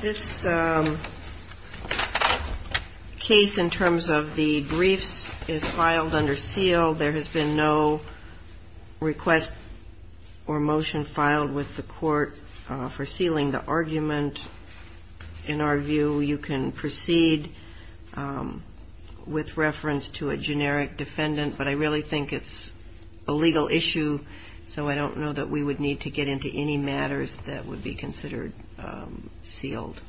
This case, in terms of the briefs, is filed under SEAL. There has been no request or motion filed with the court for sealing the argument. In our view, you can proceed with reference to a generic defendant, but I really think it's a legal issue, so I don't know that we would need to get into any further detail on that. I don't see any matters that would be considered sealed.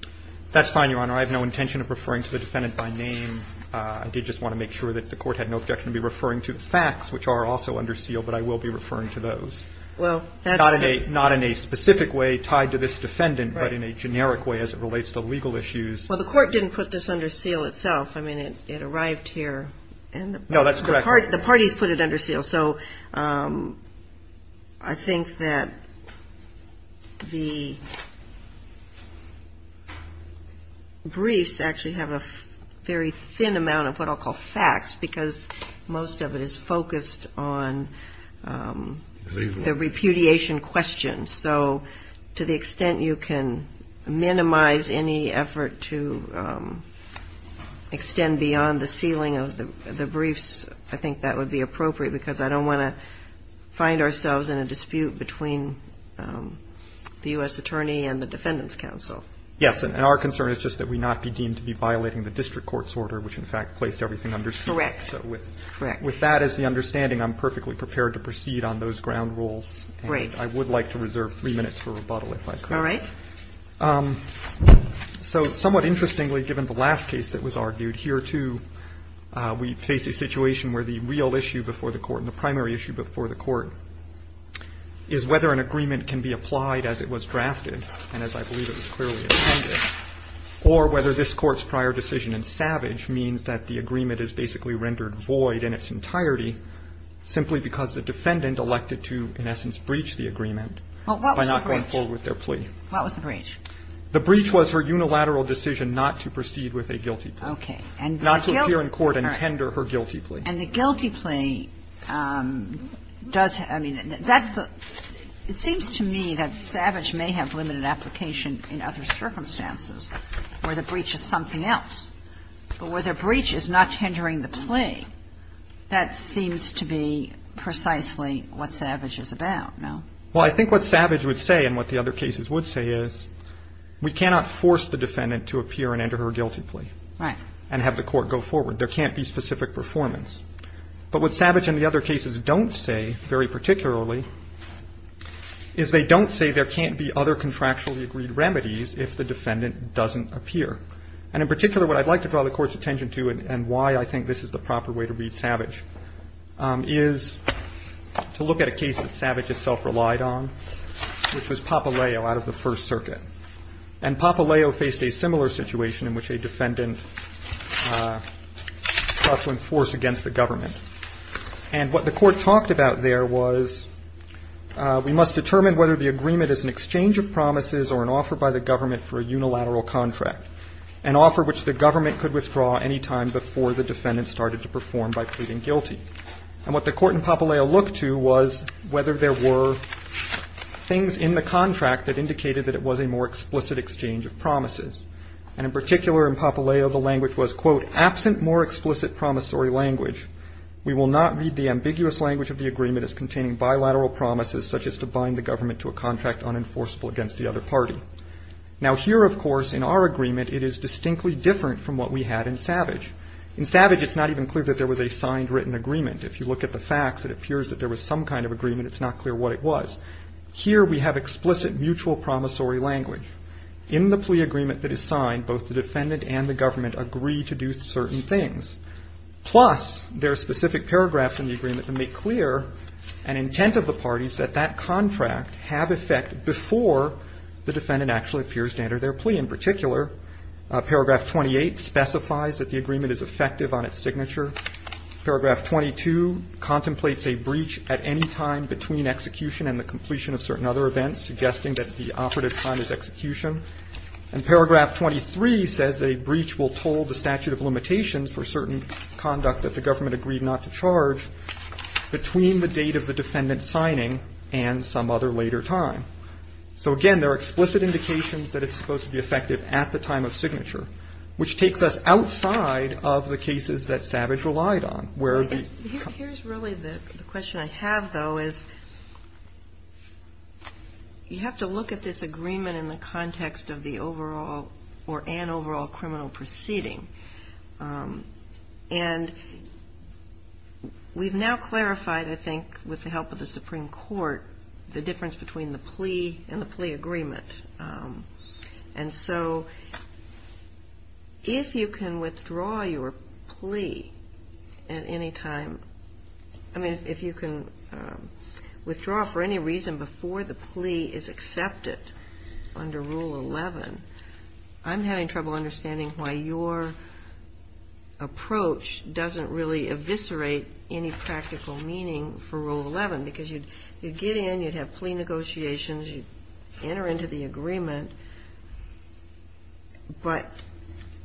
That's fine, Your Honor. I have no intention of referring to the defendant by name. I did just want to make sure that the court had no objection to be referring to the facts, which are also under SEAL, but I will be referring to those. Well, that's not in a specific way tied to this defendant, but in a generic way as it relates to legal issues. Well, the court didn't put this under SEAL itself. I mean, it arrived here. No, that's correct. The parties put it under SEAL, so I think that the briefs actually have a very thin amount of what I'll call facts because most of it is focused on the repudiation question. So to the extent you can minimize any effort to extend beyond the sealing of the briefs, I think that would be appropriate because I don't want to find ourselves in a dispute between the U.S. Attorney and the Defendant's Counsel. Yes, and our concern is just that we not be deemed to be violating the district court's order, which in fact placed everything under SEAL. Correct. So with that as the understanding, I'm perfectly prepared to proceed on those ground rules. Great. I would like to reserve three minutes for rebuttal if I could. All right. So somewhat interestingly, given the last case that was argued, here, too, we face a situation where the real issue before the Court and the primary issue before the Court is whether an agreement can be applied as it was drafted, and as I believe it was clearly intended, or whether this Court's prior decision in Savage means that the agreement is basically rendered void in its entirety simply because the Defendant elected to, in essence, breach the agreement by not going forward with their plea. Well, what was the breach? What was the breach? The breach was her unilateral decision not to proceed with a guilty plea. Okay. Not to appear in court and tender her guilty plea. And the guilty plea does – I mean, that's the – it seems to me that Savage may have in other circumstances where the breach is something else. But where the breach is not tendering the plea, that seems to be precisely what Savage is about, no? Well, I think what Savage would say and what the other cases would say is we cannot force the Defendant to appear and enter her guilty plea. Right. And have the Court go forward. There can't be specific performance. But what Savage and the other cases don't say, very particularly, is they don't say there can't be other contractually agreed remedies if the Defendant doesn't appear. And in particular, what I'd like to draw the Court's attention to and why I think this is the proper way to read Savage is to look at a case that Savage itself relied on, which was Papaleo out of the First Circuit. And Papaleo faced a similar situation in which a Defendant sought to enforce against the Government. And what the Court talked about there was we must determine whether the agreement is an exchange of promises or an offer by the Government for a unilateral contract, an offer which the Government could withdraw any time before the Defendant started to perform by pleading guilty. And what the Court in Papaleo looked to was whether there were things in the contract that indicated that it was a more explicit exchange of promises. And in particular, in Papaleo, the language was, quote, absent more explicit promissory language. We will not read the ambiguous language of the agreement as containing bilateral promises such as to bind the Government to a contract unenforceable against the other party. Now here, of course, in our agreement, it is distinctly different from what we had in Savage. In Savage, it's not even clear that there was a signed written agreement. If you look at the facts, it appears that there was some kind of agreement. It's not clear what it was. Here we have explicit mutual promissory language. In the plea agreement that is signed, both the Defendant and the Government agree to do certain things. Plus, there are specific paragraphs in the agreement that make clear an intent of the parties that that contract have effect before the Defendant actually appears to enter their plea. In particular, paragraph 28 specifies that the agreement is effective on its signature. Paragraph 22 contemplates a breach at any time between execution and the completion of certain other events, suggesting that the operative time is execution. And paragraph 23 says a breach will toll the statute of limitations for certain conduct that the Government agreed not to charge between the date of the Defendant's signing and some other later time. So, again, there are explicit indications that it's supposed to be effective at the time of signature, which takes us outside of the cases that Savage relied on, where it would be. Here's really the question I have, though, is you have to look at this agreement in the context of the overall or an overall criminal proceeding. And we've now clarified, I think, with the help of the Supreme Court, the difference between the plea and the plea agreement. And so if you can withdraw your plea at any time, I mean, if you can withdraw for any reason before the plea is accepted under Rule 11, I'm having trouble understanding why your approach doesn't really eviscerate any practical meaning for Rule 11. Because you'd get in, you'd have plea negotiations, you'd enter into the agreement, but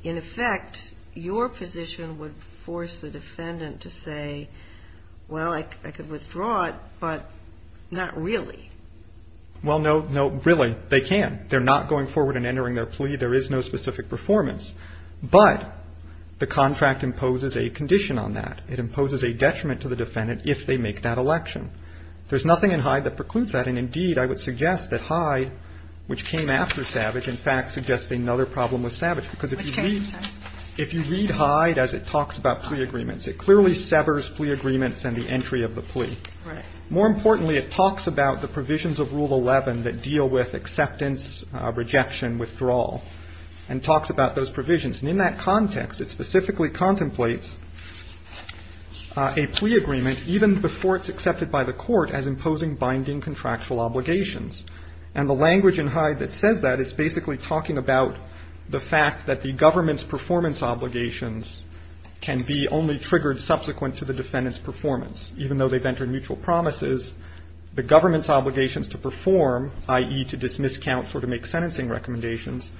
in effect, your position would force the Defendant to say, well, I could withdraw but not really. Well, no, no, really, they can. They're not going forward and entering their plea. There is no specific performance. But the contract imposes a condition on that. It imposes a detriment to the Defendant if they make that election. There's nothing in Hyde that precludes that. And, indeed, I would suggest that Hyde, which came after Savage, in fact, suggests another problem with Savage. Because if you read Hyde as it talks about plea agreements, it clearly severs plea agreements and the entry of the plea. More importantly, it talks about the provisions of Rule 11 that deal with acceptance, rejection, withdrawal, and talks about those provisions. And in that context, it specifically contemplates a plea agreement even before it's accepted by the Court as imposing binding contractual obligations. And the language in Hyde that says that is basically talking about the fact that the government's performance obligations can be only triggered subsequent to the Defendant's signing of their mutual promises, the government's obligations to perform, i.e., to dismiss counsel or to make sentencing recommendations,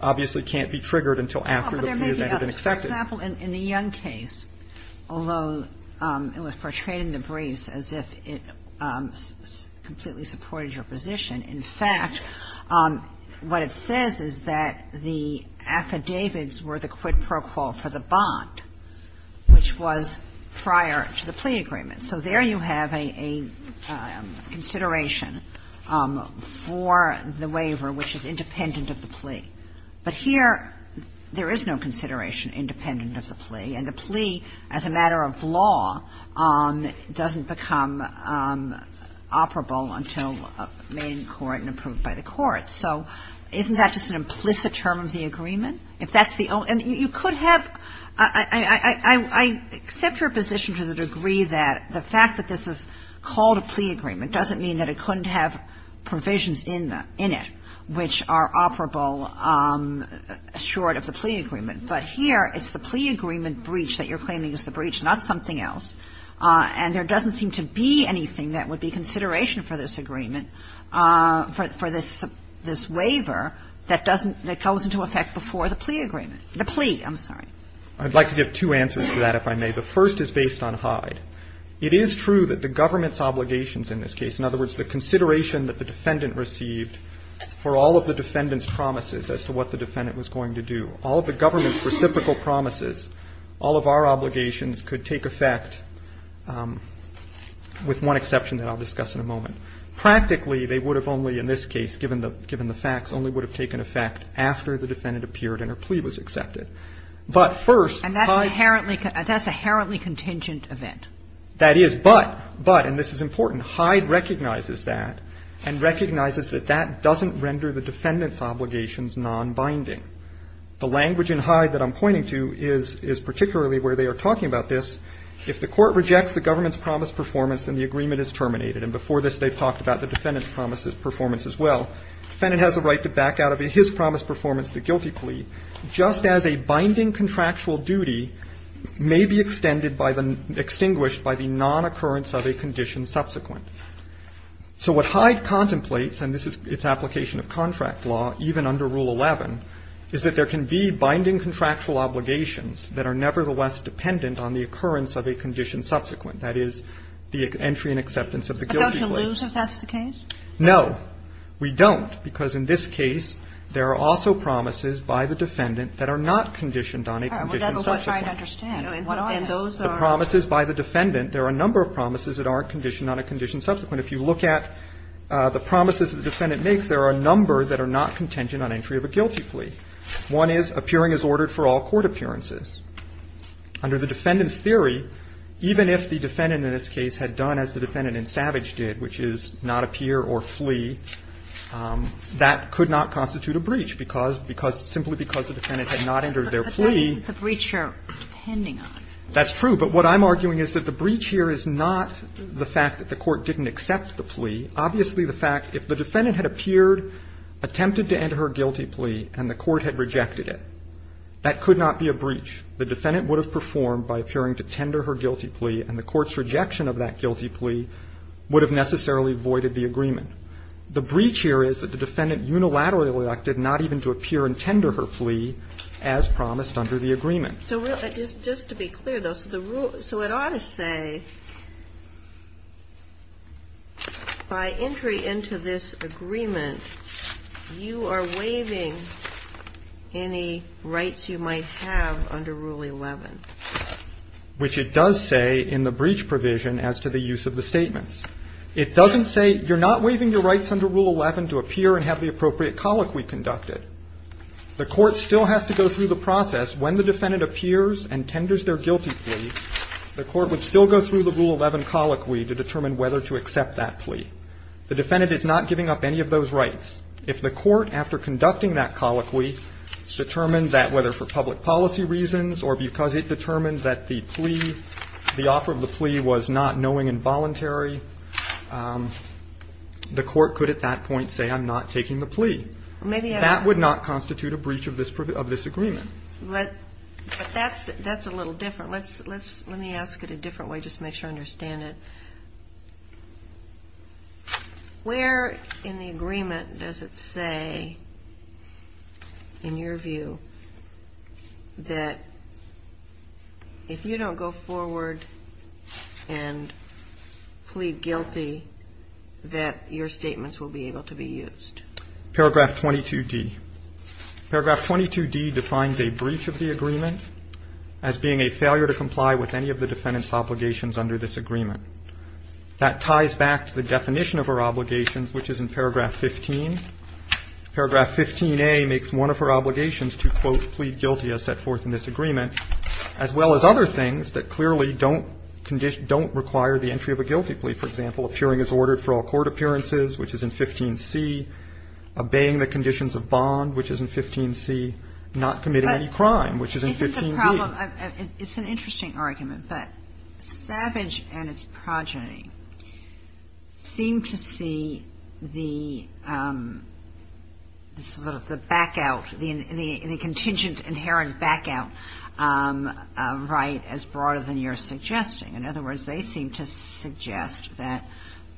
obviously can't be triggered until after the plea has entered and accepted. Kagan. But there may be others. For example, in the Young case, although it was portrayed in the briefs as if it completely supported your position, in fact, what it says is that the affidavits were the quid pro quo for the bond, which was prior to the plea agreement. So there you have a consideration for the waiver which is independent of the plea. But here there is no consideration independent of the plea, and the plea as a matter of law doesn't become operable until made in court and approved by the court. So isn't that just an implicit term of the agreement? And you could have – I accept your position to the degree that the fact that this is called a plea agreement doesn't mean that it couldn't have provisions in it which are operable short of the plea agreement. But here it's the plea agreement breach that you're claiming is the breach, not something else, and there doesn't seem to be anything that would be consideration for this agreement, for this waiver that doesn't – that goes into effect before the plea agreement. The plea, I'm sorry. I'd like to give two answers to that, if I may. The first is based on Hyde. It is true that the government's obligations in this case, in other words, the consideration that the defendant received for all of the defendant's promises as to what the defendant was going to do, all of the government's reciprocal promises, all of our obligations could take effect with one exception that I'll discuss in a moment. Practically, they would have only, in this case, given the facts, only would have taken effect after the defendant appeared and her plea was accepted. But first, Hyde – And that's an inherently – that's an inherently contingent event. That is. But – but – and this is important – Hyde recognizes that and recognizes that that doesn't render the defendant's obligations nonbinding. The language in Hyde that I'm pointing to is – is particularly where they are talking about this. If the court rejects the government's promised performance, then the agreement is terminated. And before this, they've talked about the defendant's promised performance as well. The defendant has a right to back out of his promised performance, the guilty plea, just as a binding contractual duty may be extended by the – extinguished by the nonoccurrence of a condition subsequent. So what Hyde contemplates – and this is its application of contract law, even under Rule 11 – is that there can be binding contractual obligations that are nevertheless dependent on the occurrence of a condition subsequent. That is, the entry and acceptance of the guilty plea. But don't you lose if that's the case? No. We don't. Because in this case, there are also promises by the defendant that are not conditioned on a condition subsequent. All right. Well, that's what I'm trying to understand. What are those? The promises by the defendant, there are a number of promises that aren't conditioned on a condition subsequent. If you look at the promises that the defendant makes, there are a number that are not contingent on entry of a guilty plea. One is appearing as ordered for all court appearances. Under the defendant's theory, even if the defendant in this case had done as the defendant in Savage did, which is not appear or flee, that could not constitute a breach because – because – simply because the defendant had not entered their plea. But that's what the breach are depending on. That's true. But what I'm arguing is that the breach here is not the fact that the court didn't accept the plea. Obviously, the fact that if the defendant had appeared, attempted to enter her guilty plea, and the court had rejected it, that could not be a breach. The defendant would have performed by appearing to tender her guilty plea, and the court's rejection of that guilty plea would have necessarily voided the agreement. The breach here is that the defendant unilaterally elected not even to appear and tender her plea as promised under the agreement. So just to be clear, though, so the rule – so it ought to say, by entry into this agreement, you are waiving any rights you might have under Rule 11. Which it does say in the breach provision as to the use of the statements. It doesn't say you're not waiving your rights under Rule 11 to appear and have the appropriate colloquy conducted. The court still has to go through the process. When the defendant appears and tenders their guilty plea, the court would still go through the Rule 11 colloquy to determine whether to accept that plea. The defendant is not giving up any of those rights. If the court, after conducting that colloquy, determined that whether for public policy reasons or because it determined that the plea, the offer of the plea was not knowing and voluntary, the court could at that point say, I'm not taking the plea. That would not constitute a breach of this agreement. But that's a little different. Let me ask it a different way just to make sure I understand it. Where in the agreement does it say, in your view, that if you don't go forward and plead guilty, that your statements will be able to be used? Paragraph 22D. Paragraph 22D defines a breach of the agreement as being a failure to comply with any of the defendant's obligations under this agreement. That ties back to the definition of her obligations, which is in paragraph 15. Paragraph 15A makes one of her obligations to, quote, plead guilty as set forth in this agreement, as well as other things that clearly don't require the entry of a guilty plea. He can't be convicted, for example, of plotting wrongdoing regularly. For example, appearing as ordered for all court appearances, which is in 15 C, obeying the conditions of bond, which is in 15C, not committing any crime, which is in 15 B. But isn't the problem? It's an interesting argument, but savage and its progeny seem to see the back out, the contingent, the inherent back out, right as broader than you're suggesting. committing any crimes.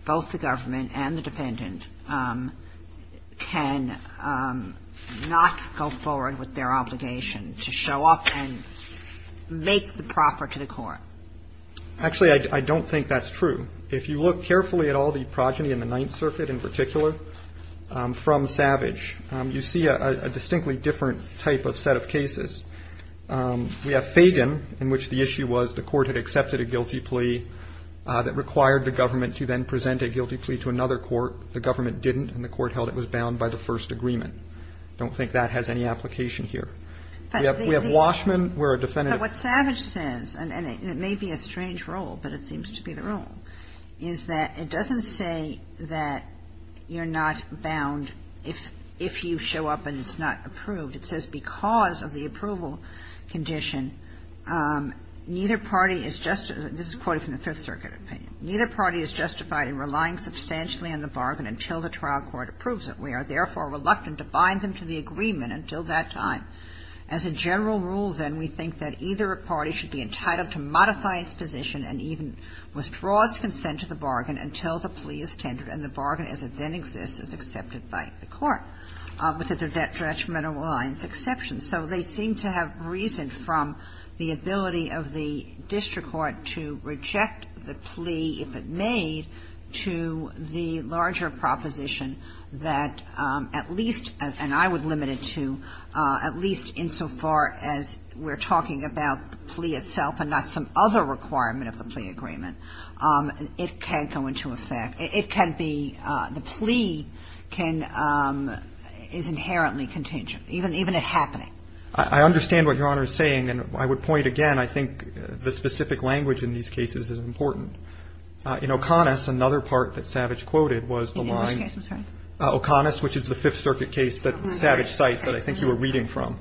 both the government and the defendant can not go forward with their obligation to show up and make the proffer to the court. Actually, I don't think that's true. If you look carefully at all the progeny in the ninth circuit in particular from savage, you see a distinctly different type of set of cases. We have Fagan, in which the issue was the court had accepted a guilty plea that required the government to then present a guilty plea to another court. The government didn't and the court held it was bound by the first agreement. I don't think that has any application here. We have Washman where a defendant. But what Savage says, and it may be a strange role, but it seems to be the wrong, is that it doesn't say that you're not bound if you show up and it's not approved. It says because of the approval condition, neither party is just, this is quoted from the fifth circuit opinion. Neither party is justified in relying substantially on the bargain until the trial court approves it. We are therefore reluctant to bind them to the agreement until that time. As a general rule, then, we think that either party should be entitled to modify its position and even withdraw its consent to the bargain until the plea is tendered and the bargain as it then exists is accepted by the court with the detrimental lines exception. So they seem to have reason from the ability of the district court to reject the plea if it made to the larger proposition that at least, and I would limit it to, at least insofar as we're talking about the plea itself and not some other requirement of the plea agreement, it can go into effect. It can be, the plea can, is inherently contingent, even at happening. I understand what Your Honor is saying, and I would point again, I think the specific language in these cases is important. In O'Connor's, another part that Savage quoted was the line, O'Connor's, which is the fifth circuit case that Savage cites that I think you were reading from.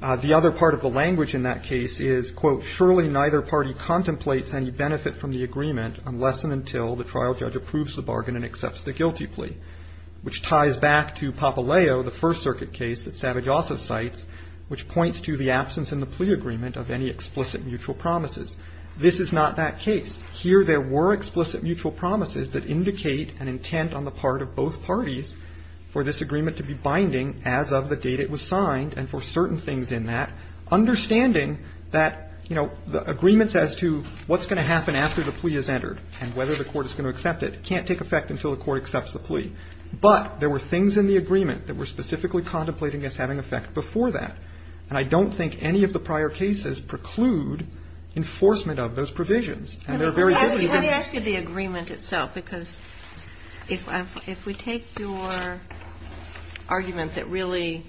The other part of the language in that case is, quote, surely neither party contemplates any benefit from the agreement unless and until the trial judge approves the bargain and accepts the guilty plea, which ties back to Papaleo, the first circuit case that Savage also cites, which points to the absence in the plea agreement of any explicit mutual promises. This is not that case. Here, there were explicit promises. There were explicit mutual promises that indicate an intent on the part of both parties for this agreement to be binding as of the date it was signed and for certain things in that, understanding that, you know, the agreements as to what's going to happen after the plea is entered and whether the court is going to accept it can't take effect until the court accepts the plea. But there were things in the agreement that were specifically contemplating as having effect before that. And I don't think any of the prior cases preclude enforcement of those provisions. And there are very early cases. Let me ask you the agreement itself, because if we take your argument that really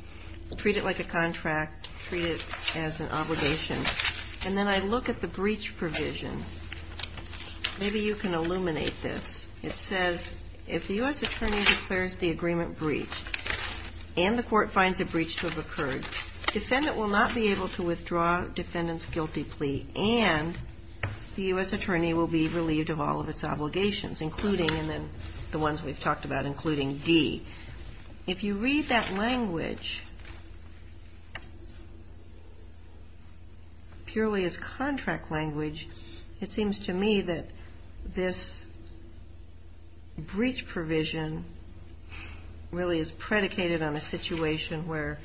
treat it like a contract, treat it as an obligation, and then I look at the breach provision, maybe you can illuminate this. It says, if the U.S. Attorney declares the agreement breached and the court finds a breach to have occurred, defendant will not be able to withdraw defendant's guilty plea and the U.S. Attorney will be released on bail. Attorney will be relieved of all of its obligations, including, and then the ones we've talked about, including D. If you read that language purely as contract language, it seems to me that this breach provision really is predicated on a situation where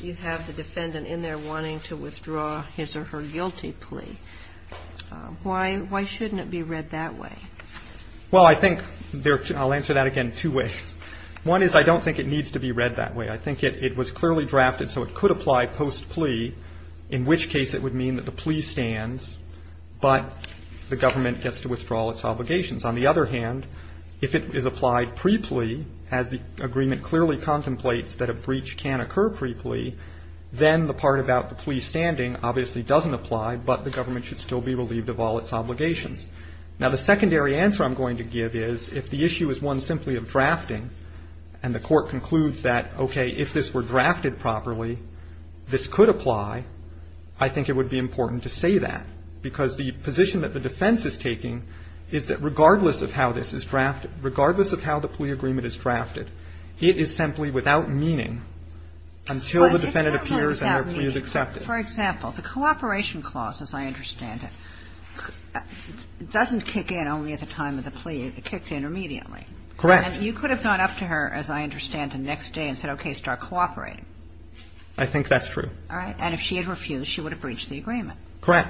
you have the defendant in there wanting to withdraw his or her guilty plea. Why is it read that way? Well, I think, I'll answer that again two ways. One is I don't think it needs to be read that way. I think it was clearly drafted so it could apply post-plea, in which case it would mean that the plea stands, but the government gets to withdraw all its obligations. On the other hand, if it is applied pre-plea, as the agreement clearly contemplates that a breach can occur pre-plea, then the part about the plea standing obviously doesn't apply, but the government should still be relieved of all its obligations. Now, the secondary answer I'm going to give is if the issue is one simply of drafting and the court concludes that, okay, if this were drafted properly, this could apply, I think it would be important to say that, because the position that the defense is taking is that regardless of how this is drafted, regardless of how the plea agreement is drafted, it is simply without meaning until the defendant appears and their plea is accepted. And the other thing I'm going to say is that, as I understand it, the cooperation clause, as I understand it, doesn't kick in only at the time of the plea. It kicked in immediately. Correct. And you could have gone up to her, as I understand it, the next day and said, okay, start cooperating. I think that's true. All right. And if she had refused, she would have breached the agreement. Correct.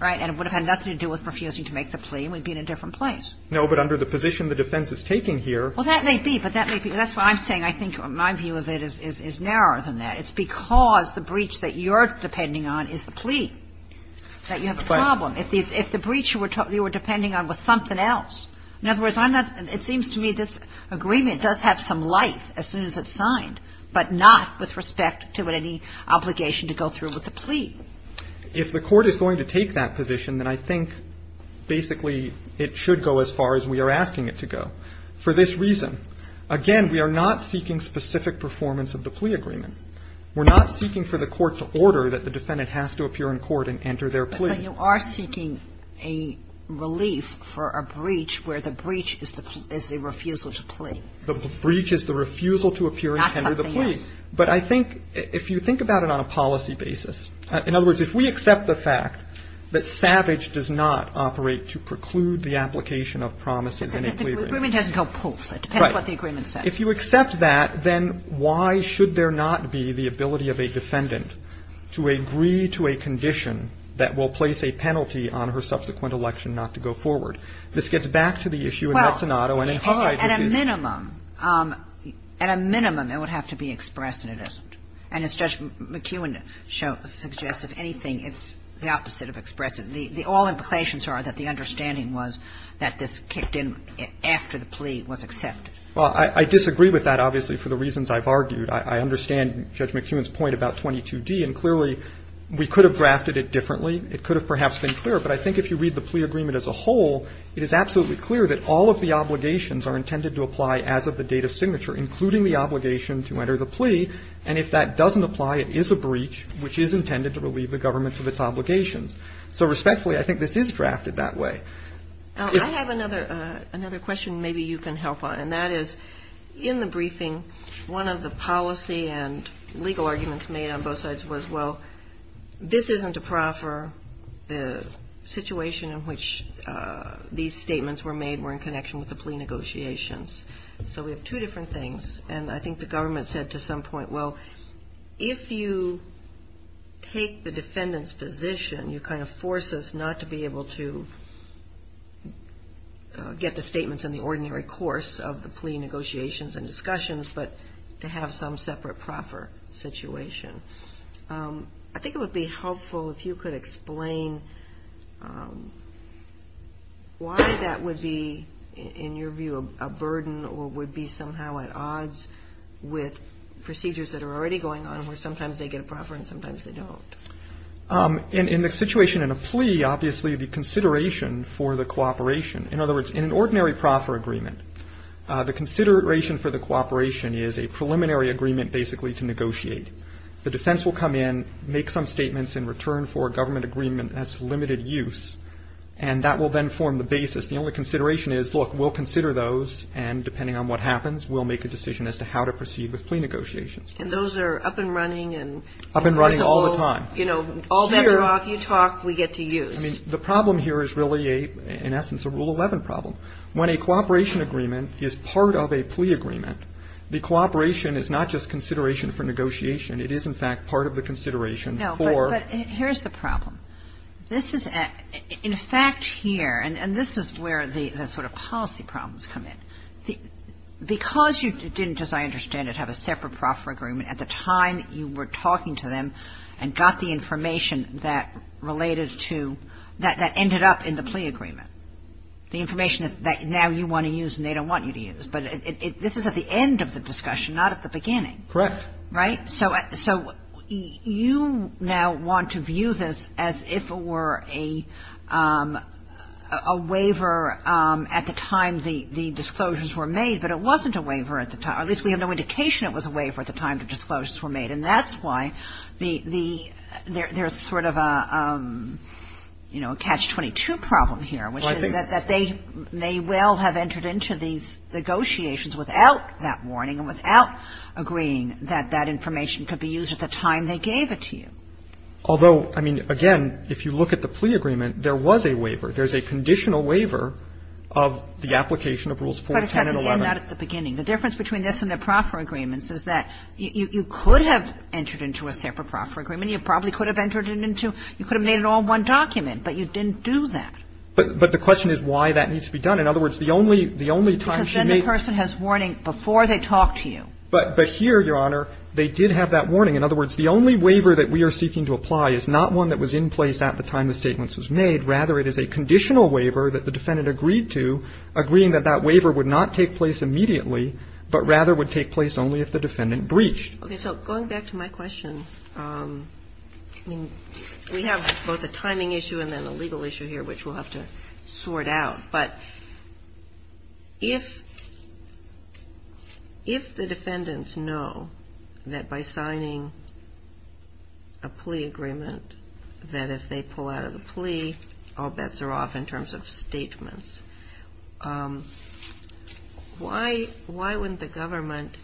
Right. And it would have had nothing to do with refusing to make the plea and we would No, but under the position the defense is taking here ---- Well, that may be, but that may be. And the other thing I think, in my view of it, is narrower than that. It's because the breach that you're depending on is the plea that you have the problem. If the breach you were depending on was something else. In other words, I'm not ---- it seems to me this agreement does have some life as soon as it's signed, but not with respect to any obligation to go through with the plea. If the Court is going to take that position, then I think basically it should go as far as we are asking it to go. For this reason, again, we are not seeking specific performance of the plea agreement. We're not seeking for the Court to order that the defendant has to appear in court and enter their plea. But you are seeking a relief for a breach where the breach is the refusal to plea. The breach is the refusal to appear and enter the plea. That's something else. But I think if you think about it on a policy basis, in other words, if we accept the fact that Savage does not operate to preclude the application of promises in a plea agreement. Kagan. The agreement doesn't go poof. It depends on what the agreement says. Right. If you accept that, then why should there not be the ability of a defendant to agree to a condition that will place a penalty on her subsequent election not to go forward? This gets back to the issue in Mazzanato and in Hyde. Well, at a minimum, at a minimum, it would have to be expressed, and it isn't. And as Judge McKeown suggests, if anything, it's the opposite of expressive. The all implications are that the understanding was that this kicked in after the plea was accepted. Well, I disagree with that, obviously, for the reasons I've argued. I understand Judge McKeown's point about 22d. And clearly, we could have drafted it differently. It could have perhaps been clearer. But I think if you read the plea agreement as a whole, it is absolutely clear that all of the obligations are intended to apply as of the date of signature, including the obligation to enter the plea. And if that doesn't apply, it is a breach which is intended to relieve the government of its obligations. So respectfully, I think this is drafted that way. I have another question maybe you can help on. And that is, in the briefing, one of the policy and legal arguments made on both sides was, well, this isn't a proffer. The situation in which these statements were made were in connection with the plea negotiations. So we have two different things. And I think the government said to some point, well, if you take the defendant's position, you kind of force us not to be able to get the statements in the ordinary course of the plea negotiations and discussions, but to have some separate proffer situation. I think it would be helpful if you could explain why that would be, in your view, a burden or would be somehow at odds with procedures that are already going on where sometimes they get a proffer and sometimes they don't. In the situation in a plea, obviously, the consideration for the cooperation, in other words, in an ordinary proffer agreement, the consideration for the cooperation is a preliminary agreement basically to negotiate. The defense will come in, make some statements in return for a government agreement that's limited use, and that will then form the basis. The only consideration is, look, we'll consider those. And depending on what happens, we'll make a decision as to how to proceed with plea negotiations. And those are up and running. Up and running all the time. You know, all better off. You talk. We get to use. I mean, the problem here is really a, in essence, a Rule 11 problem. When a cooperation agreement is part of a plea agreement, the cooperation is not just consideration for negotiation. It is, in fact, part of the consideration for. No, but here's the problem. This is, in fact, here, and this is where the sort of policy problems come in. Because you didn't, as I understand it, have a separate proffer agreement, at the time you were talking to them and got the information that related to, that ended up in the plea agreement, the information that now you want to use and they don't want you to use. But this is at the end of the discussion, not at the beginning. Correct. Right? So you now want to view this as if it were a waiver at the time the disclosures were made, but it wasn't a waiver at the time. At least we have no indication it was a waiver at the time the disclosures were made. And that's why there's sort of a, you know, a catch-22 problem here, which is that they may well have entered into these negotiations without that warning and without agreeing that that information could be used at the time they gave it to you. Although, I mean, again, if you look at the plea agreement, there was a waiver. There's a conditional waiver of the application of Rules 410 and 11. But, in fact, you're not at the beginning. The difference between this and the proffer agreements is that you could have entered into a separate proffer agreement. You probably could have entered it into you could have made it all in one document, but you didn't do that. But the question is why that needs to be done. In other words, the only time she made. But here, Your Honor, they did have that warning. In other words, the only waiver that we are seeking to apply is not one that was in place at the time the statements was made. Rather, it is a conditional waiver that the defendant agreed to, agreeing that that waiver would not take place immediately, but rather would take place only if the defendant breached. Okay. So going back to my question, I mean, we have both a timing issue and then a legal issue here which we'll have to sort out. But if the defendants know that by signing a plea agreement that if they pull out of the plea, all bets are off in terms of statements, why wouldn't the government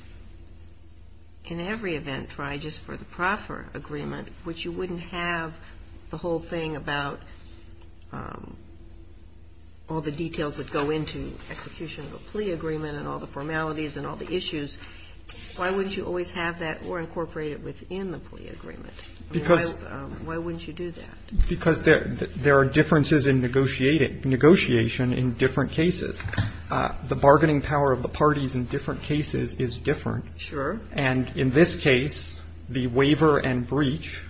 in every event try just for the proffer agreement, which you wouldn't have the whole thing about all the details that go into execution of a plea agreement and all the formalities and all the issues, why wouldn't you always have that or incorporate it within the plea agreement? Why wouldn't you do that? Because there are differences in negotiation in different cases. The bargaining power of the parties in different cases is different. Sure. And in this case, the waiver and breach,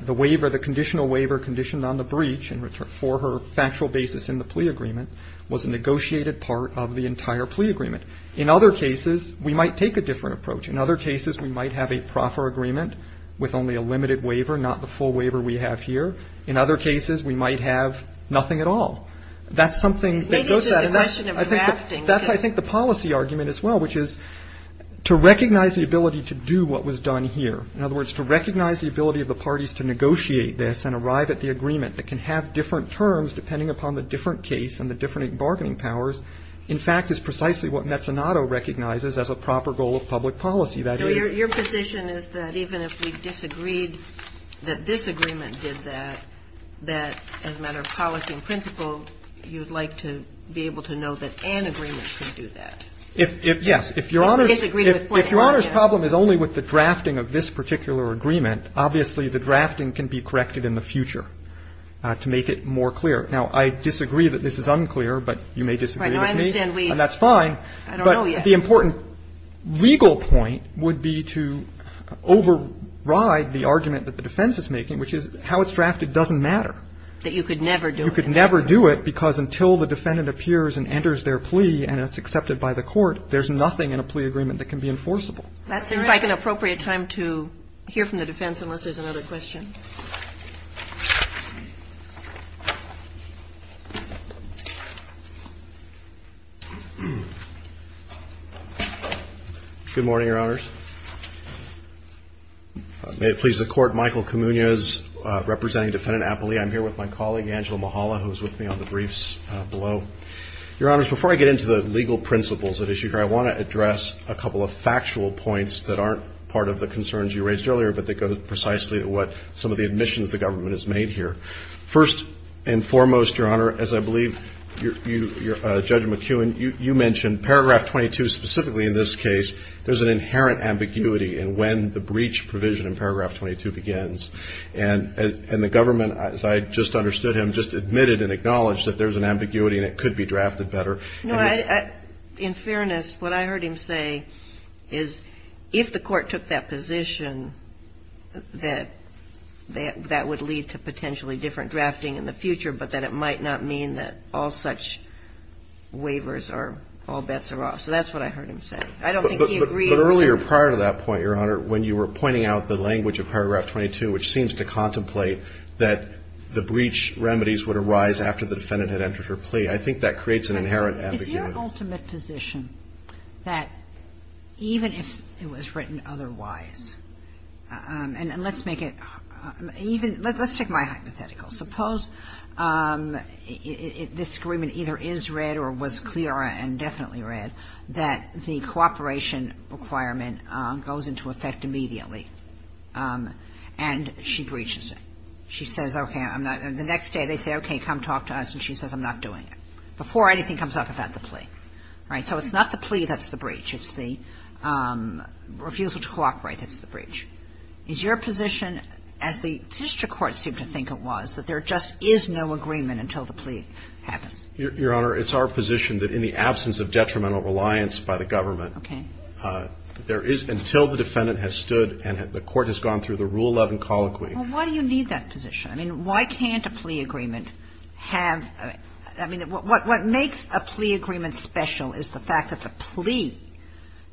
the waiver, the conditional waiver conditioned on the breach and for her factual basis in the plea agreement was a negotiated part of the entire plea agreement. In other cases, we might take a different approach. In other cases, we might have a proffer agreement with only a limited waiver, not the full waiver we have here. In other cases, we might have nothing at all. That's something that goes to that. Maybe it's just a question of drafting. That's, I think, the policy argument as well, which is to recognize the ability to do what was done here. In other words, to recognize the ability of the parties to negotiate this and arrive at the agreement that can have different terms depending upon the different case and the different bargaining powers, in fact, is precisely what Mezzanotto recognizes as a proper goal of public policy. Your position is that even if we disagreed that this agreement did that, that as a matter of policy and principle, you'd like to be able to know that an agreement can do that? Yes. If Your Honor's problem is only with the drafting of this particular agreement, obviously the drafting can be corrected in the future to make it more clear. Now, I disagree that this is unclear, but you may disagree with me, and that's fine. But the important legal point would be to override the argument that the defense is making, which is how it's drafted doesn't matter. That you could never do it. You could never do it because until the defendant appears and enters their plea and it's accepted by the court, there's nothing in a plea agreement that can be enforceable. That seems like an appropriate time to hear from the defense unless there's another question. May it please the Court. I'm Michael Camuñas, representing Defendant Appley. I'm here with my colleague, Angela Mahala, who's with me on the briefs below. Your Honors, before I get into the legal principles at issue here, I want to address a couple of factual points that aren't part of the concerns you raised earlier, but that go precisely to what some of the admissions the government has made here. First and foremost, Your Honor, as I believe Judge McEwen, you mentioned paragraph 22 specifically in this case. There's an inherent ambiguity in when the breach provision in paragraph 22 begins. And the government, as I just understood him, just admitted and acknowledged that there's an ambiguity and it could be drafted better. No, in fairness, what I heard him say is if the court took that position, that that would lead to potentially different drafting in the future, but that it might not mean that all such waivers or all bets are off. So that's what I heard him say. I don't think he agreed with that. But earlier, prior to that point, Your Honor, when you were pointing out the language of paragraph 22, which seems to contemplate that the breach remedies would arise after the defendant had entered her plea, I think that creates an inherent ambiguity. Is your ultimate position that even if it was written otherwise, and let's make it even – let's take my hypothetical. Suppose this agreement either is read or was clear and definitely read that the cooperation requirement goes into effect immediately, and she breaches it. She says, okay, I'm not – the next day they say, okay, come talk to us, and she says, I'm not doing it, before anything comes up about the plea. Right? So it's not the plea that's the breach. It's the refusal to cooperate that's the breach. Is your position, as the district court seemed to think it was, that there just is no agreement until the plea happens? Your Honor, it's our position that in the absence of detrimental reliance by the government, there is – until the defendant has stood and the court has gone through the Rule 11 colloquy. Well, why do you need that position? I mean, why can't a plea agreement have – I mean, what makes a plea agreement special is the fact that the plea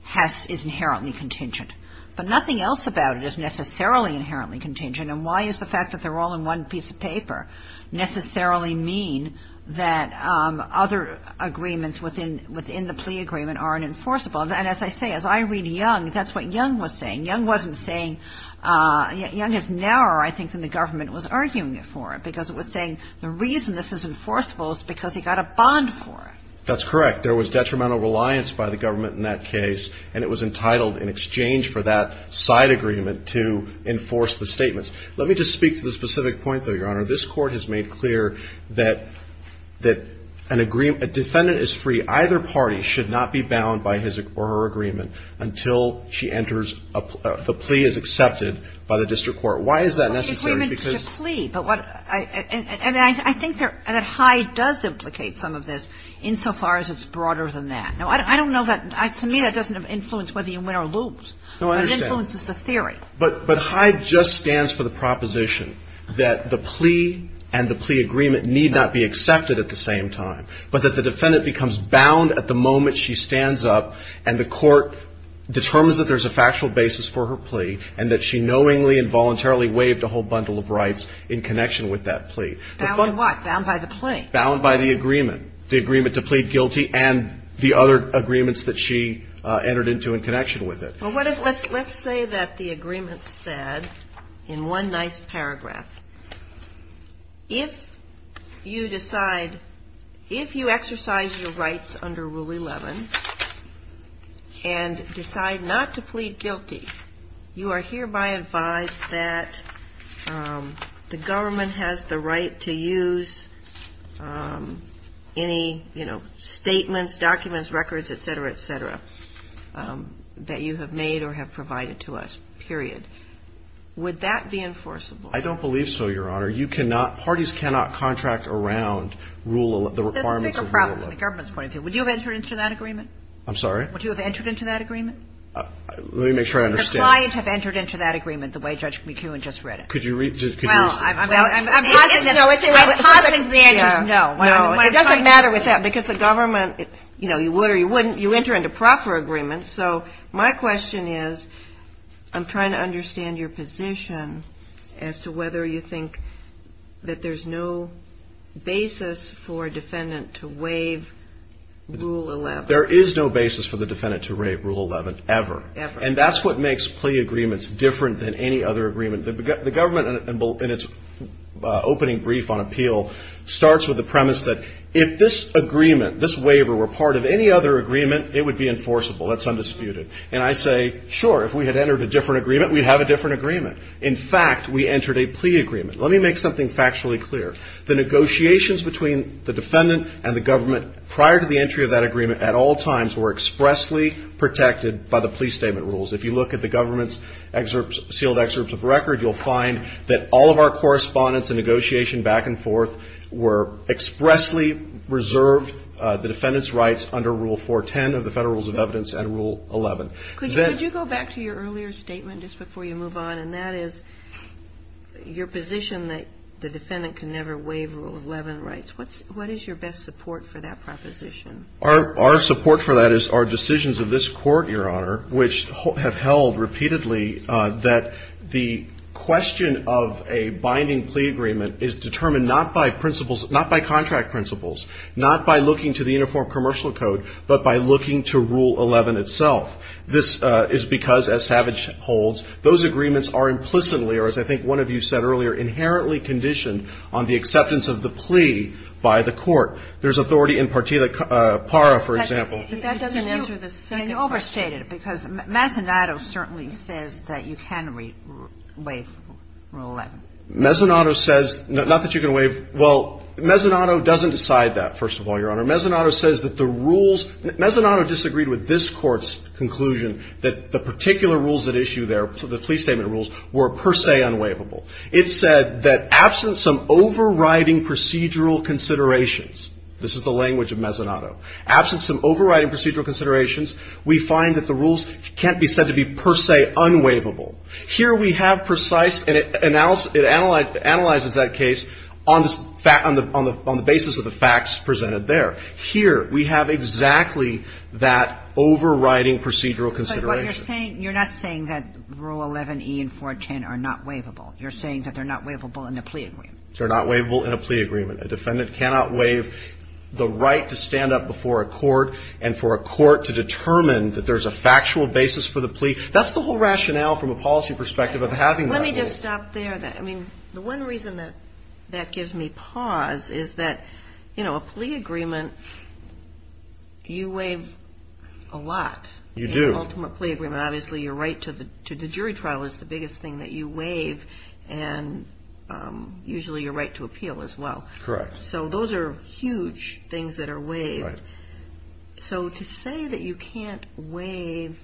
has – is inherently contingent. But nothing else about it is necessarily inherently contingent, and why is the fact that they're all in one piece of paper necessarily mean that other agreements within the plea agreement aren't enforceable? And as I say, as I read Young, that's what Young was saying. Young wasn't saying – Young is narrower, I think, than the government was arguing it for, because it was saying the reason this is enforceable is because he got a bond for it. That's correct. There was detrimental reliance by the government in that case, and it was entitled in exchange for that side agreement to enforce the statements. Let me just speak to the specific point, though, Your Honor. This Court has made clear that an agreement – a defendant is free. Either party should not be bound by his or her agreement until she enters a – the plea is accepted by the district court. Why is that necessary? Well, the agreement is a plea, but what – and I think that Hyde does implicate some of this insofar as it's broader than that. Now, I don't know that – to me, that doesn't influence whether you win or lose. No, I understand. But it influences the theory. But Hyde just stands for the proposition that the plea and the plea agreement need not be accepted at the same time, but that the defendant becomes bound at the moment she stands up and the court determines that there's a factual basis for her plea and that she knowingly and voluntarily waived a whole bundle of rights in connection with that plea. Bound in what? Bound by the plea? Bound by the agreement, the agreement to plead guilty and the other agreements that she entered into in connection with it. Well, let's say that the agreement said in one nice paragraph, if you decide – if you exercise your rights under Rule 11 and decide not to plead guilty, you are hereby advised that the government has the right to use any, you know, statements, documents, records, et cetera, et cetera, that you have made or have provided to us, period. Would that be enforceable? I don't believe so, Your Honor. You cannot – parties cannot contract around Rule 11, the requirements of Rule 11. That's a bigger problem than the government's point of view. Would you have entered into that agreement? I'm sorry? Would you have entered into that agreement? Let me make sure I understand. The client have entered into that agreement the way Judge McKeown just read it. Could you – could you explain? Well, I'm positive. I'm positive the answer is no. No, it doesn't matter with that because the government, you know, you would or you wouldn't, you enter into proper agreements. So my question is, I'm trying to understand your position as to whether you think that there's no basis for a defendant to waive Rule 11. There is no basis for the defendant to waive Rule 11 ever. Ever. And that's what makes plea agreements different than any other agreement. The government in its opening brief on appeal starts with the premise that if this agreement, this waiver were part of any other agreement, it would be enforceable. That's undisputed. And I say, sure, if we had entered a different agreement, we'd have a different agreement. In fact, we entered a plea agreement. Let me make something factually clear. The negotiations between the defendant and the government prior to the entry of that agreement at all times were expressly protected by the plea statement rules. If you look at the government's sealed excerpts of record, you'll find that all of our correspondence and negotiation back and forth were expressly reserved, the defendant's rights under Rule 410 of the Federal Rules of Evidence and Rule 11. Could you go back to your earlier statement just before you move on, and that is your position that the defendant can never waive Rule 11 rights. What is your best support for that proposition? Our support for that is our decisions of this court, Your Honor, which have held repeatedly that the question of a binding plea agreement is determined not by principles, not by contract principles, not by looking to the Uniform Commercial Code, but by looking to Rule 11 itself. This is because, as Savage holds, those agreements are implicitly, or as I think one of you said earlier, inherently conditioned on the acceptance of the plea by the court. There's authority in Partita Parra, for example. But that doesn't answer the second question. You overstated it because Mezzanotto certainly says that you can waive Rule 11. Mezzanotto says, not that you can waive. Well, Mezzanotto doesn't decide that, first of all, Your Honor. Mezzanotto says that the rules – Mezzanotto disagreed with this Court's conclusion that the particular rules at issue there, the plea statement rules, were per se unwaivable. It said that absent some overriding procedural considerations – this is the language of Mezzanotto – absent some overriding procedural considerations, we find that the rules can't be said to be per se unwaivable. Here we have precise – and it analyzes that case on the basis of the facts presented there. Here we have exactly that overriding procedural consideration. But you're saying – you're not saying that Rule 11e and 410 are not waivable. You're saying that they're not waivable in a plea agreement. They're not waivable in a plea agreement. A defendant cannot waive the right to stand up before a court and for a court to determine that there's a factual basis for the plea. That's the whole rationale from a policy perspective of having that rule. Let me just stop there. I mean, the one reason that that gives me pause is that, you know, a plea agreement, you waive a lot. You do. In an ultimate plea agreement, obviously, your right to the jury trial is the biggest thing that you waive, and usually your right to appeal as well. Correct. So those are huge things that are waived. Right. So to say that you can't waive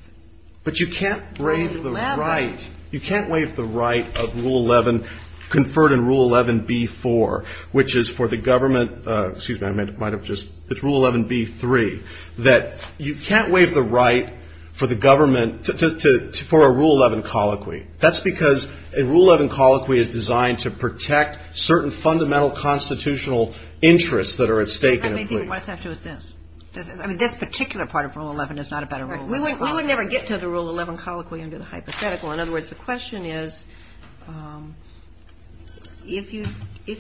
Rule 11… But you can't waive the right. You can't waive the right of Rule 11, conferred in Rule 11b-4, which is for the government excuse me, I might have just, it's Rule 11b-3, that you can't waive the right for the government for a Rule 11 colloquy. That's because a Rule 11 colloquy is designed to protect certain fundamental constitutional interests that are at stake in a plea. I mean, this particular part of Rule 11 is not a better Rule 11. We would never get to the Rule 11 colloquy under the hypothetical. In other words, the question is, if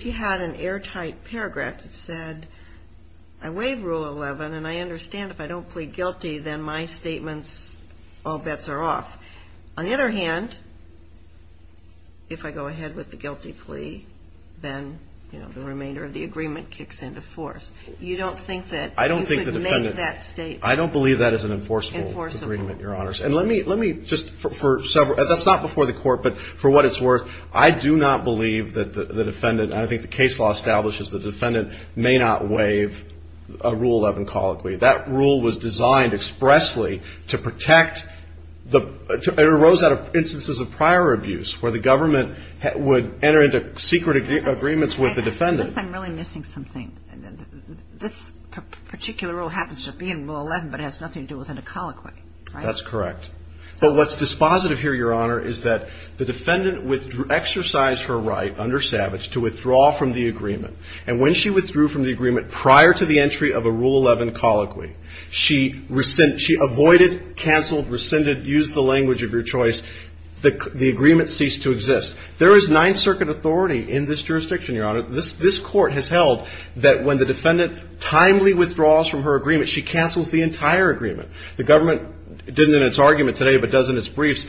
you had an airtight paragraph that said, I waive Rule 11, and I understand if I don't plead guilty, then my statements, all bets are off. On the other hand, if I go ahead with the guilty plea, then the remainder of the agreement kicks into force. You don't think that you could make that statement? I don't believe that is an enforceable agreement, Your Honors. And let me just, for several, that's not before the Court, but for what it's worth, I do not believe that the defendant and I think the case law establishes the defendant may not waive a Rule 11 colloquy. That rule was designed expressly to protect, it arose out of instances of prior abuse where the government would enter into secret agreements with the defendant. I think I'm really missing something. This particular rule happens to be in Rule 11, but it has nothing to do with a colloquy, right? That's correct. But what's dispositive here, Your Honor, is that the defendant exercised her right under Savage to withdraw from the agreement. And when she withdrew from the agreement prior to the entry of a Rule 11 colloquy, she avoided, canceled, rescinded, used the language of your choice, the agreement ceased to exist. There is Ninth Circuit authority in this jurisdiction, Your Honor. This Court has held that when the defendant timely withdraws from her agreement, she cancels the entire agreement. The government didn't in its argument today but does in its briefs,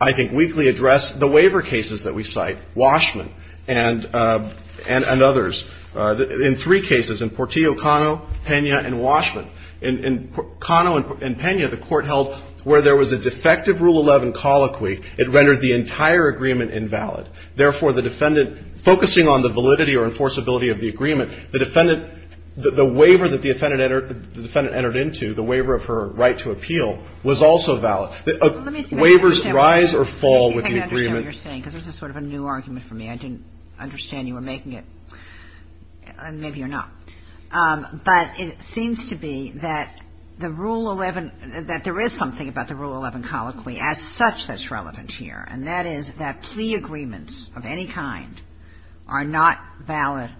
I think, weekly address the waiver cases that we cite, Washman and others. In three cases, in Portillo, Cano, Pena, and Washman, in Cano and Pena, the Court held where there was a defective Rule 11 colloquy, it rendered the entire agreement invalid. Therefore, the defendant, focusing on the validity or enforceability of the agreement, the defendant, the waiver that the defendant entered into, the waiver of her right to appeal, was also valid. Waivers rise or fall with the agreement. Kagan. Let me see if I can understand what you're saying, because this is sort of a new argument for me. I didn't understand you were making it, and maybe you're not. But it seems to be that the Rule 11, that there is something about the Rule 11 colloquy as such that's relevant here, and that is that plea agreements of any kind are not valid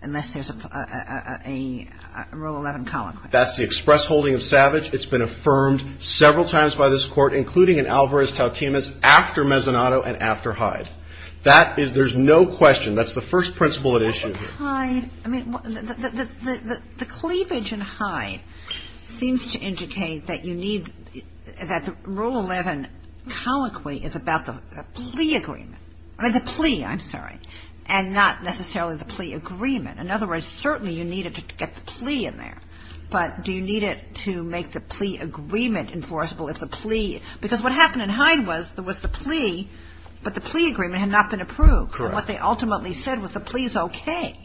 unless there's a Rule 11 colloquy. That's the express holding of Savage. It's been affirmed several times by this Court, including in Alvarez-Tautemus, after Mezzanotto and after Hyde. That is, there's no question. That's the first principle at issue here. Hyde, I mean, the cleavage in Hyde seems to indicate that you need, that the Rule 11 colloquy is about the plea agreement. I mean, the plea, I'm sorry. And not necessarily the plea agreement. In other words, certainly you need it to get the plea in there. But do you need it to make the plea agreement enforceable if the plea, because what happened in Hyde was there was the plea, but the plea agreement had not been approved. And what they ultimately said was the plea is okay,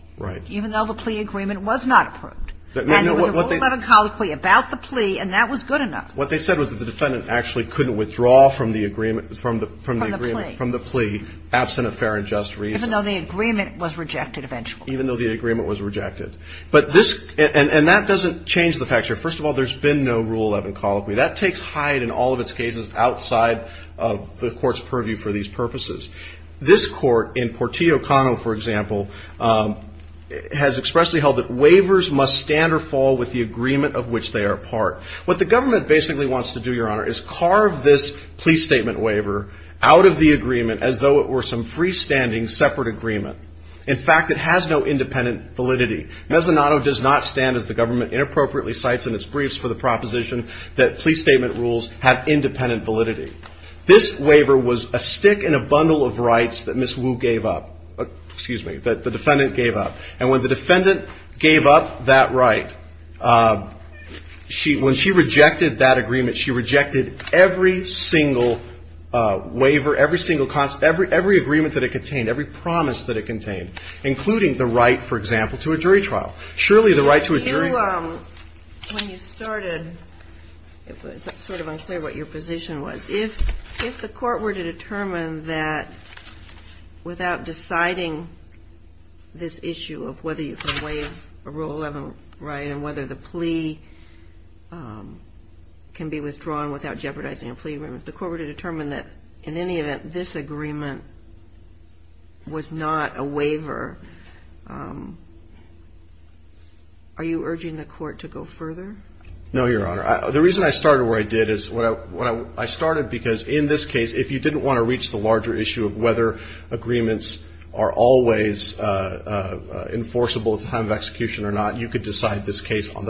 even though the plea agreement was not approved. And there was a Rule 11 colloquy about the plea, and that was good enough. What they said was that the defendant actually couldn't withdraw from the agreement, from the plea, absent a fair and just reason. Even though the agreement was rejected eventually. Even though the agreement was rejected. But this, and that doesn't change the fact here. First of all, there's been no Rule 11 colloquy. That takes Hyde and all of its cases outside of the Court's purview for these purposes. This Court, in Portillo-Cano, for example, has expressly held that waivers must stand or fall with the agreement of which they are part. What the government basically wants to do, Your Honor, is carve this plea statement waiver out of the agreement as though it were some freestanding separate agreement. In fact, it has no independent validity. Mezzanotto does not stand, as the government inappropriately cites in its briefs, for the proposition that plea statement rules have independent validity. This waiver was a stick in a bundle of rights that Ms. Wu gave up. Excuse me, that the defendant gave up. And when the defendant gave up that right, when she rejected that agreement, she rejected every single waiver, every single, every agreement that it contained, every promise that it contained, including the right, for example, to a jury trial. Surely the right to a jury trial. When you started, it was sort of unclear what your position was. If the Court were to determine that without deciding this issue of whether you could waive a Rule 11 right and whether the plea can be withdrawn without jeopardizing a plea agreement, if the Court were to determine that in any event this agreement was not a waiver, are you urging the Court to go further? No, Your Honor. The reason I started where I did is what I started because in this case, if you didn't want to reach the larger issue of whether agreements are always enforceable at the time of execution or not, you could decide this case on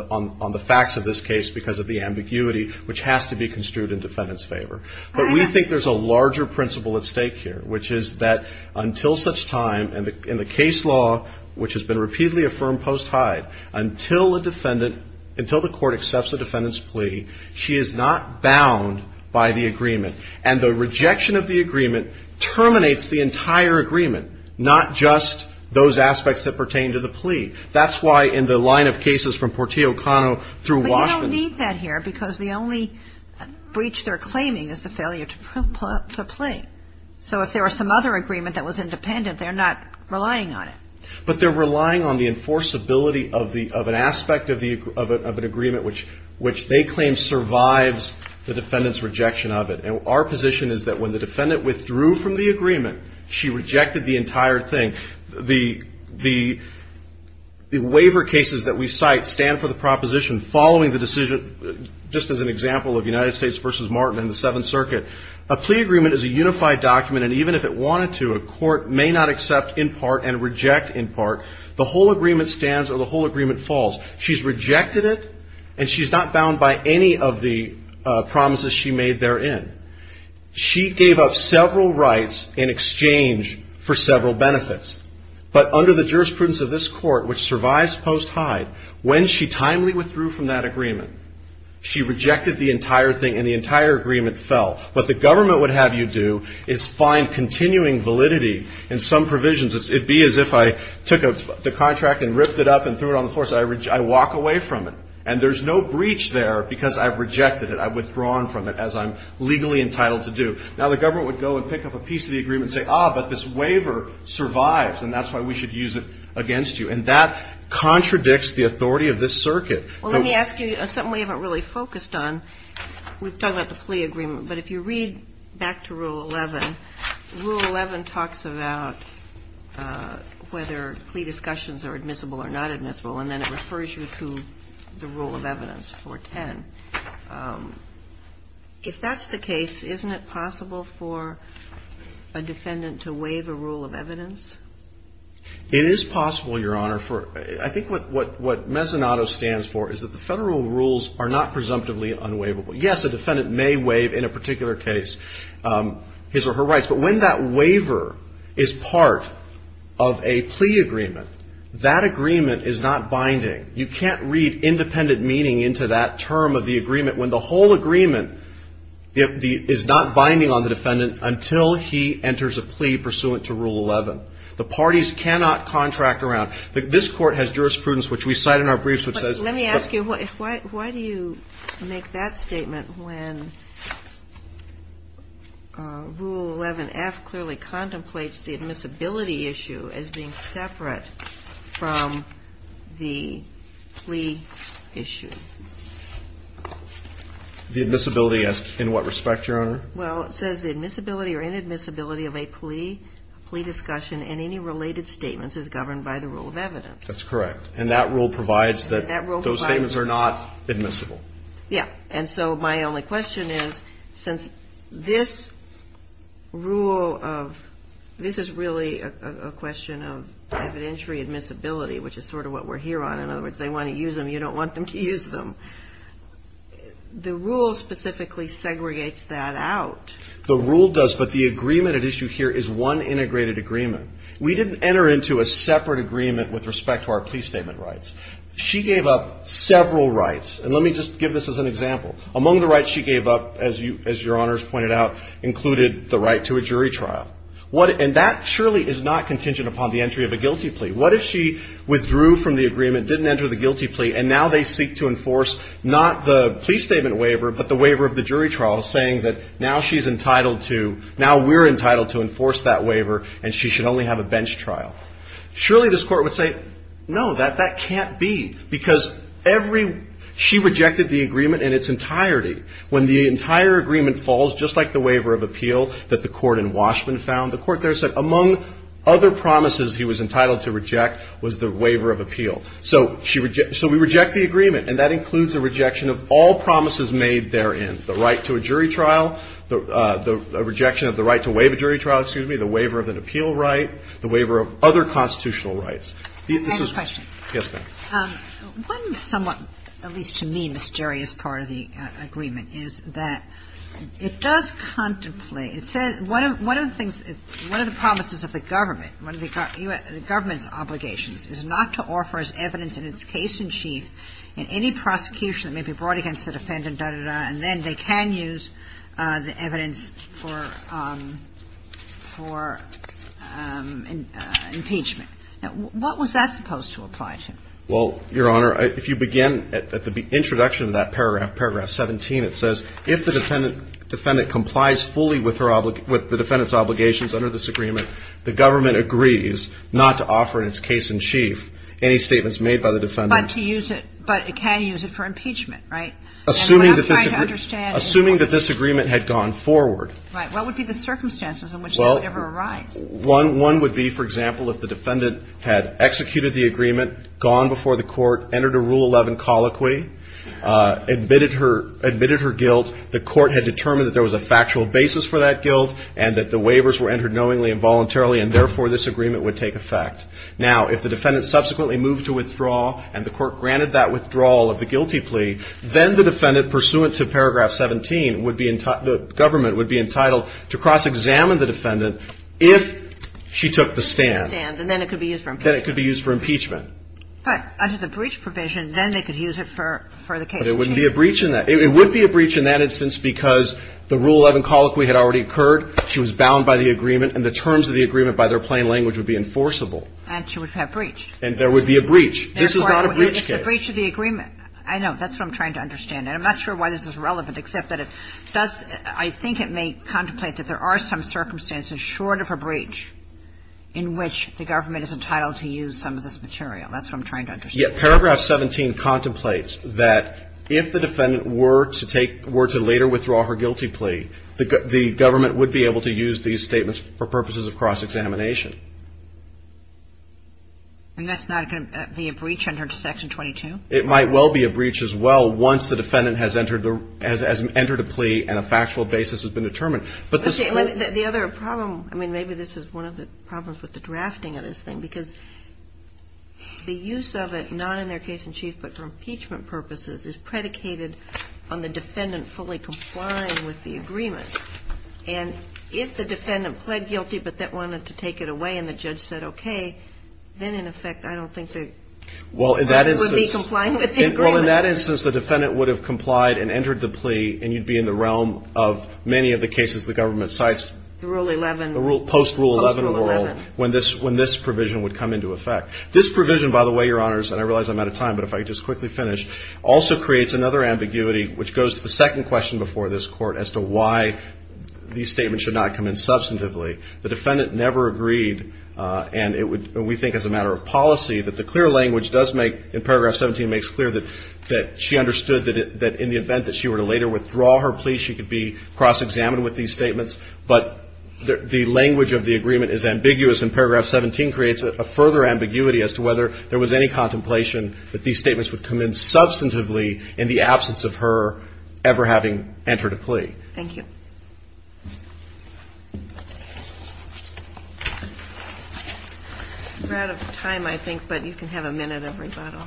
the facts of this case because of the ambiguity which has to be construed in defendant's favor. But we think there's a larger principle at stake here, which is that until such time, in the case law, which has been repeatedly affirmed post-hide, until a defendant, until the Court accepts a defendant's plea, she is not bound by the agreement. And the rejection of the agreement terminates the entire agreement, not just those aspects that pertain to the plea. That's why in the line of cases from Portillo-Cano through Washington. We don't need that here because the only breach they're claiming is the failure to plead. So if there were some other agreement that was independent, they're not relying on it. But they're relying on the enforceability of an aspect of an agreement which they claim survives the defendant's rejection of it. And our position is that when the defendant withdrew from the agreement, she rejected the entire thing. The waiver cases that we cite stand for the proposition following the decision, just as an example of United States v. Martin and the Seventh Circuit. A plea agreement is a unified document, and even if it wanted to, a court may not accept in part and reject in part. The whole agreement stands or the whole agreement falls. She's rejected it, and she's not bound by any of the promises she made therein. She gave up several rights in exchange for several benefits. But under the jurisprudence of this court, which survives post-hide, when she timely withdrew from that agreement, she rejected the entire thing and the entire agreement fell. What the government would have you do is find continuing validity in some provisions. It'd be as if I took the contract and ripped it up and threw it on the floor, so I walk away from it. And there's no breach there because I've rejected it. I've withdrawn from it, as I'm legally entitled to do. Now, the government would go and pick up a piece of the agreement and say, ah, but this waiver survives, and that's why we should use it against you. And that contradicts the authority of this circuit. Well, let me ask you something we haven't really focused on. We've talked about the plea agreement, but if you read back to Rule 11, Rule 11 talks about whether plea discussions are admissible or not admissible, and then it refers you to the rule of evidence, 410. If that's the case, isn't it possible for a defendant to waive a rule of evidence? It is possible, Your Honor. I think what Mezzanotto stands for is that the Federal rules are not presumptively unwaivable. Yes, a defendant may waive, in a particular case, his or her rights. But when that waiver is part of a plea agreement, that agreement is not binding. You can't read independent meaning into that term of the agreement. When the whole agreement is not binding on the defendant until he enters a plea pursuant to Rule 11. The parties cannot contract around. This Court has jurisprudence, which we cite in our briefs, which says that the defendant may waive. Rule 11-F clearly contemplates the admissibility issue as being separate from the plea issue. The admissibility in what respect, Your Honor? Well, it says the admissibility or inadmissibility of a plea, plea discussion, and any related statements is governed by the rule of evidence. That's correct. And that rule provides that those statements are not admissible. Yeah. And so my only question is, since this rule of, this is really a question of evidentiary admissibility, which is sort of what we're here on. In other words, they want to use them. You don't want them to use them. The rule specifically segregates that out. The rule does, but the agreement at issue here is one integrated agreement. We didn't enter into a separate agreement with respect to our plea statement rights. She gave up several rights. And let me just give this as an example. Among the rights she gave up, as Your Honor has pointed out, included the right to a jury trial. And that surely is not contingent upon the entry of a guilty plea. What if she withdrew from the agreement, didn't enter the guilty plea, and now they seek to enforce not the plea statement waiver, but the waiver of the jury trial, saying that now she's entitled to, now we're entitled to enforce that waiver, and she should only have a bench trial? Surely this Court would say, no, that can't be. Because she rejected the agreement in its entirety. When the entire agreement falls, just like the waiver of appeal that the court in Washburn found, the court there said among other promises he was entitled to reject was the waiver of appeal. So we reject the agreement, and that includes a rejection of all promises made therein, the right to a jury trial, the rejection of the right to waive a jury trial, excuse me, the waiver of an appeal right, the waiver of other constitutional rights. The other question. Roberts. The other question. Yes, ma'am. One somewhat, at least to me, mysterious part of the agreement is that it does contemplate one of the things, one of the promises of the government, one of the government's obligations is not to offer as evidence in its case in chief in any prosecution that may be brought against the defendant, da, da, da, and then they can use the evidence for impeachment. Now, what was that supposed to apply to? Well, Your Honor, if you begin at the introduction of that paragraph, paragraph 17, it says if the defendant complies fully with the defendant's obligations under this agreement, the government agrees not to offer in its case in chief any statements made by the defendant. But to use it, but it can use it for impeachment, right? And what I'm trying to understand is. Well, I'm trying to understand, Your Honor, what would be the circumstances in which that would ever arise? Well, one would be, for example, if the defendant had executed the agreement, gone before the court, entered a Rule 11 colloquy, admitted her guilt, the court had determined that there was a factual basis for that guilt and that the waivers were entered knowingly and voluntarily, and therefore this agreement would take effect. Now, if the defendant subsequently moved to withdraw and the court granted that withdrawal of the guilty plea, then the defendant, pursuant to paragraph 17, would be entitled the government would be entitled to cross-examine the defendant if she took the stand. And then it could be used for impeachment. Then it could be used for impeachment. But under the breach provision, then they could use it for the case. But it wouldn't be a breach in that. It would be a breach in that instance because the Rule 11 colloquy had already occurred, she was bound by the agreement, and the terms of the agreement by their plain language would be enforceable. And there would be a breach. This is not a breach case. It's a breach of the agreement. I know. That's what I'm trying to understand. And I'm not sure why this is relevant, except that it does, I think it may contemplate that there are some circumstances short of a breach in which the government is entitled to use some of this material. That's what I'm trying to understand. Yeah. Paragraph 17 contemplates that if the defendant were to take, were to later withdraw her guilty plea, the government would be able to use these statements for purposes of cross-examination. And that's not going to be a breach under Section 22? It might well be a breach as well once the defendant has entered a plea and a factual basis has been determined. But the other problem, I mean, maybe this is one of the problems with the drafting of this thing, because the use of it, not in their case in chief, but for impeachment purposes, is predicated on the defendant fully complying with the agreement. And if the defendant pled guilty, but then wanted to take it away and the judge said okay, then in effect, I don't think they would be complying with the agreement. Well, in that instance, the defendant would have complied and entered the plea, and you'd be in the realm of many of the cases the government cites. The Rule 11. Post-Rule 11 when this provision would come into effect. This provision, by the way, Your Honors, and I realize I'm out of time, but if I could just quickly finish, also creates another ambiguity, which goes to the second question before this Court as to why these statements should not come in substantively. The defendant never agreed, and we think as a matter of policy, that the clear language does make, in paragraph 17, makes clear that she understood that in the event that she were to later withdraw her plea, she could be cross-examined with these statements. But the language of the agreement is ambiguous, and paragraph 17 creates a further ambiguity as to whether there was any contemplation that these statements would come in substantively in the absence of her ever having entered a plea. Thank you. We're out of time, I think, but you can have a minute of rebuttal.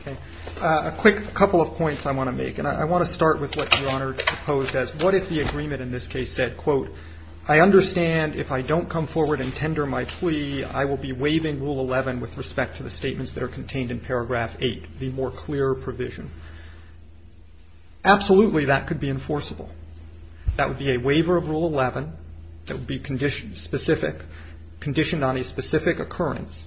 Okay. A quick couple of points I want to make, and I want to start with what Your Honor proposed as what if the agreement in this case said, quote, I understand if I don't come forward and tender my plea, I will be waiving Rule 11 with respect to the statements that are contained in paragraph 8, the more clear provision. Absolutely, that could be enforceable. That would be a waiver of Rule 11 that would be specific, conditioned on a specific occurrence.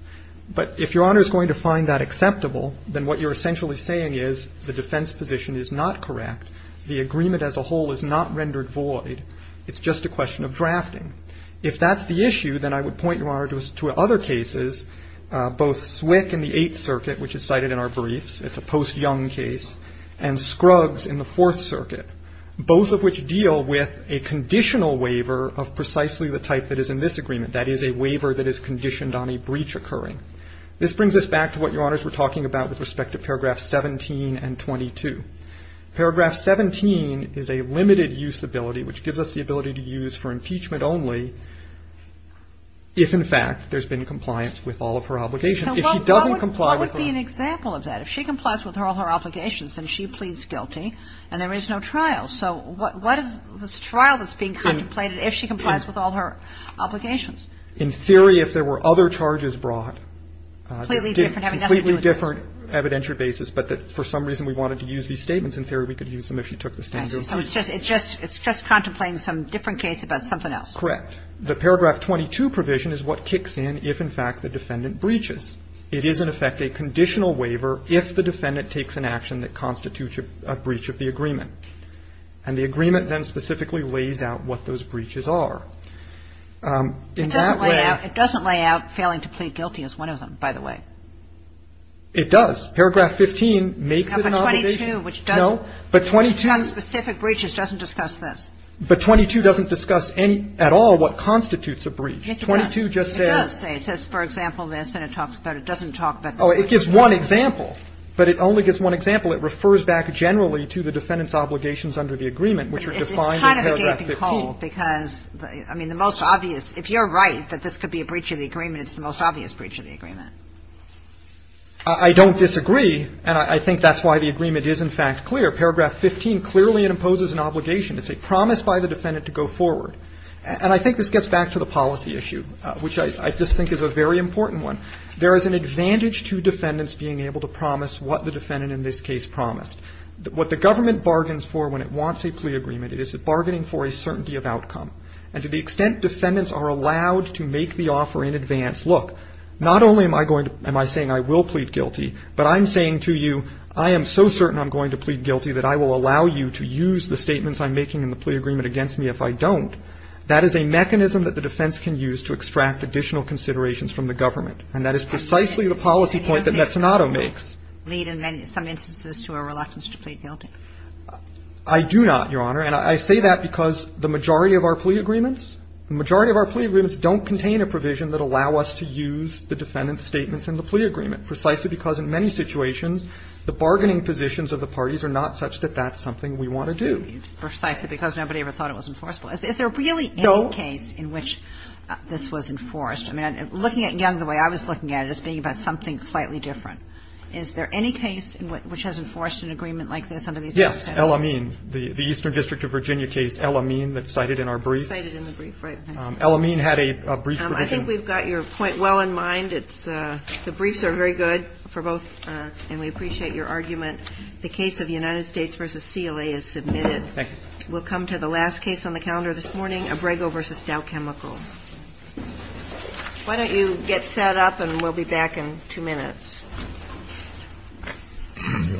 But if Your Honor is going to find that acceptable, then what you're essentially saying is the defense position is not correct, the agreement as a whole is not rendered void, it's just a question of drafting. If that's the issue, then I would point Your Honor to other cases, both SWCC and the Eighth Circuit, which is cited in our briefs, it's a post-Young case, and Scruggs in the Fourth Circuit, both of which deal with a conditional waiver of precisely the type that is in this agreement, that is, a waiver that is conditioned on a breach occurring. This brings us back to what Your Honors were talking about with respect to paragraph 17 and 22. Paragraph 17 is a limited-use ability, which gives us the ability to use for impeachment only if, in fact, there's been compliance with all of her obligations. If she doesn't comply with that. So what would be an example of that? If she complies with all her obligations, then she pleads guilty and there is no trial. So what is this trial that's being contemplated if she complies with all her obligations? In theory, if there were other charges brought. Completely different, having nothing to do with this. Completely different evidentiary basis, but that for some reason we wanted to use these statements, in theory we could use them if she took the stand. So it's just contemplating some different case about something else. Correct. The paragraph 22 provision is what kicks in if, in fact, the defendant breaches. It is, in effect, a conditional waiver if the defendant takes an action that constitutes a breach of the agreement. And the agreement then specifically lays out what those breaches are. In that way. It doesn't lay out failing to plead guilty as one of them, by the way. It does. Paragraph 15 makes it an obligation. No, but 22, which does. No, but 22. Which on specific breaches doesn't discuss this. But 22 doesn't discuss any at all what constitutes a breach. Yes, it does. 22 just says. It does say. It says, for example, this, and it talks about it doesn't talk about the breach. Oh, it gives one example. But it only gives one example. It refers back generally to the defendant's obligations under the agreement, which are defined in paragraph 15. It's kind of a gaping hole because, I mean, the most obvious. If you're right that this could be a breach of the agreement, it's the most obvious breach of the agreement. I don't disagree, and I think that's why the agreement is, in fact, clear. Paragraph 15 clearly imposes an obligation. It's a promise by the defendant to go forward. And I think this gets back to the policy issue, which I just think is a very important one. There is an advantage to defendants being able to promise what the defendant in this case promised. What the government bargains for when it wants a plea agreement, it is a bargaining for a certainty of outcome. And to the extent defendants are allowed to make the offer in advance, look, not only am I saying I will plead guilty, but I'm saying to you I am so certain I'm making in the plea agreement against me if I don't. That is a mechanism that the defense can use to extract additional considerations from the government. And that is precisely the policy point that Mezzanotto makes. Kagan. And how does that lead in some instances to a reluctance to plead guilty? I do not, Your Honor. And I say that because the majority of our plea agreements, the majority of our plea agreements don't contain a provision that allow us to use the defendant's statements in the plea agreement, precisely because in many situations the bargaining positions of the parties are not such that that's something we want to do. It's precisely because nobody ever thought it was enforceable. Is there really any case in which this was enforced? I mean, looking at Young the way I was looking at it as being about something slightly different. Is there any case in which has enforced an agreement like this under these rules? Yes. El-Amin. The Eastern District of Virginia case El-Amin that's cited in our brief. Cited in the brief, right. El-Amin had a brief provision. I think we've got your point well in mind. It's the briefs are very good for both. And we appreciate your argument. The case of United States v. CLA is submitted. Thank you. We'll come to the last case on the calendar this morning, Abrego v. Dow Chemical. Why don't you get set up and we'll be back in two minutes. Do you want to go up?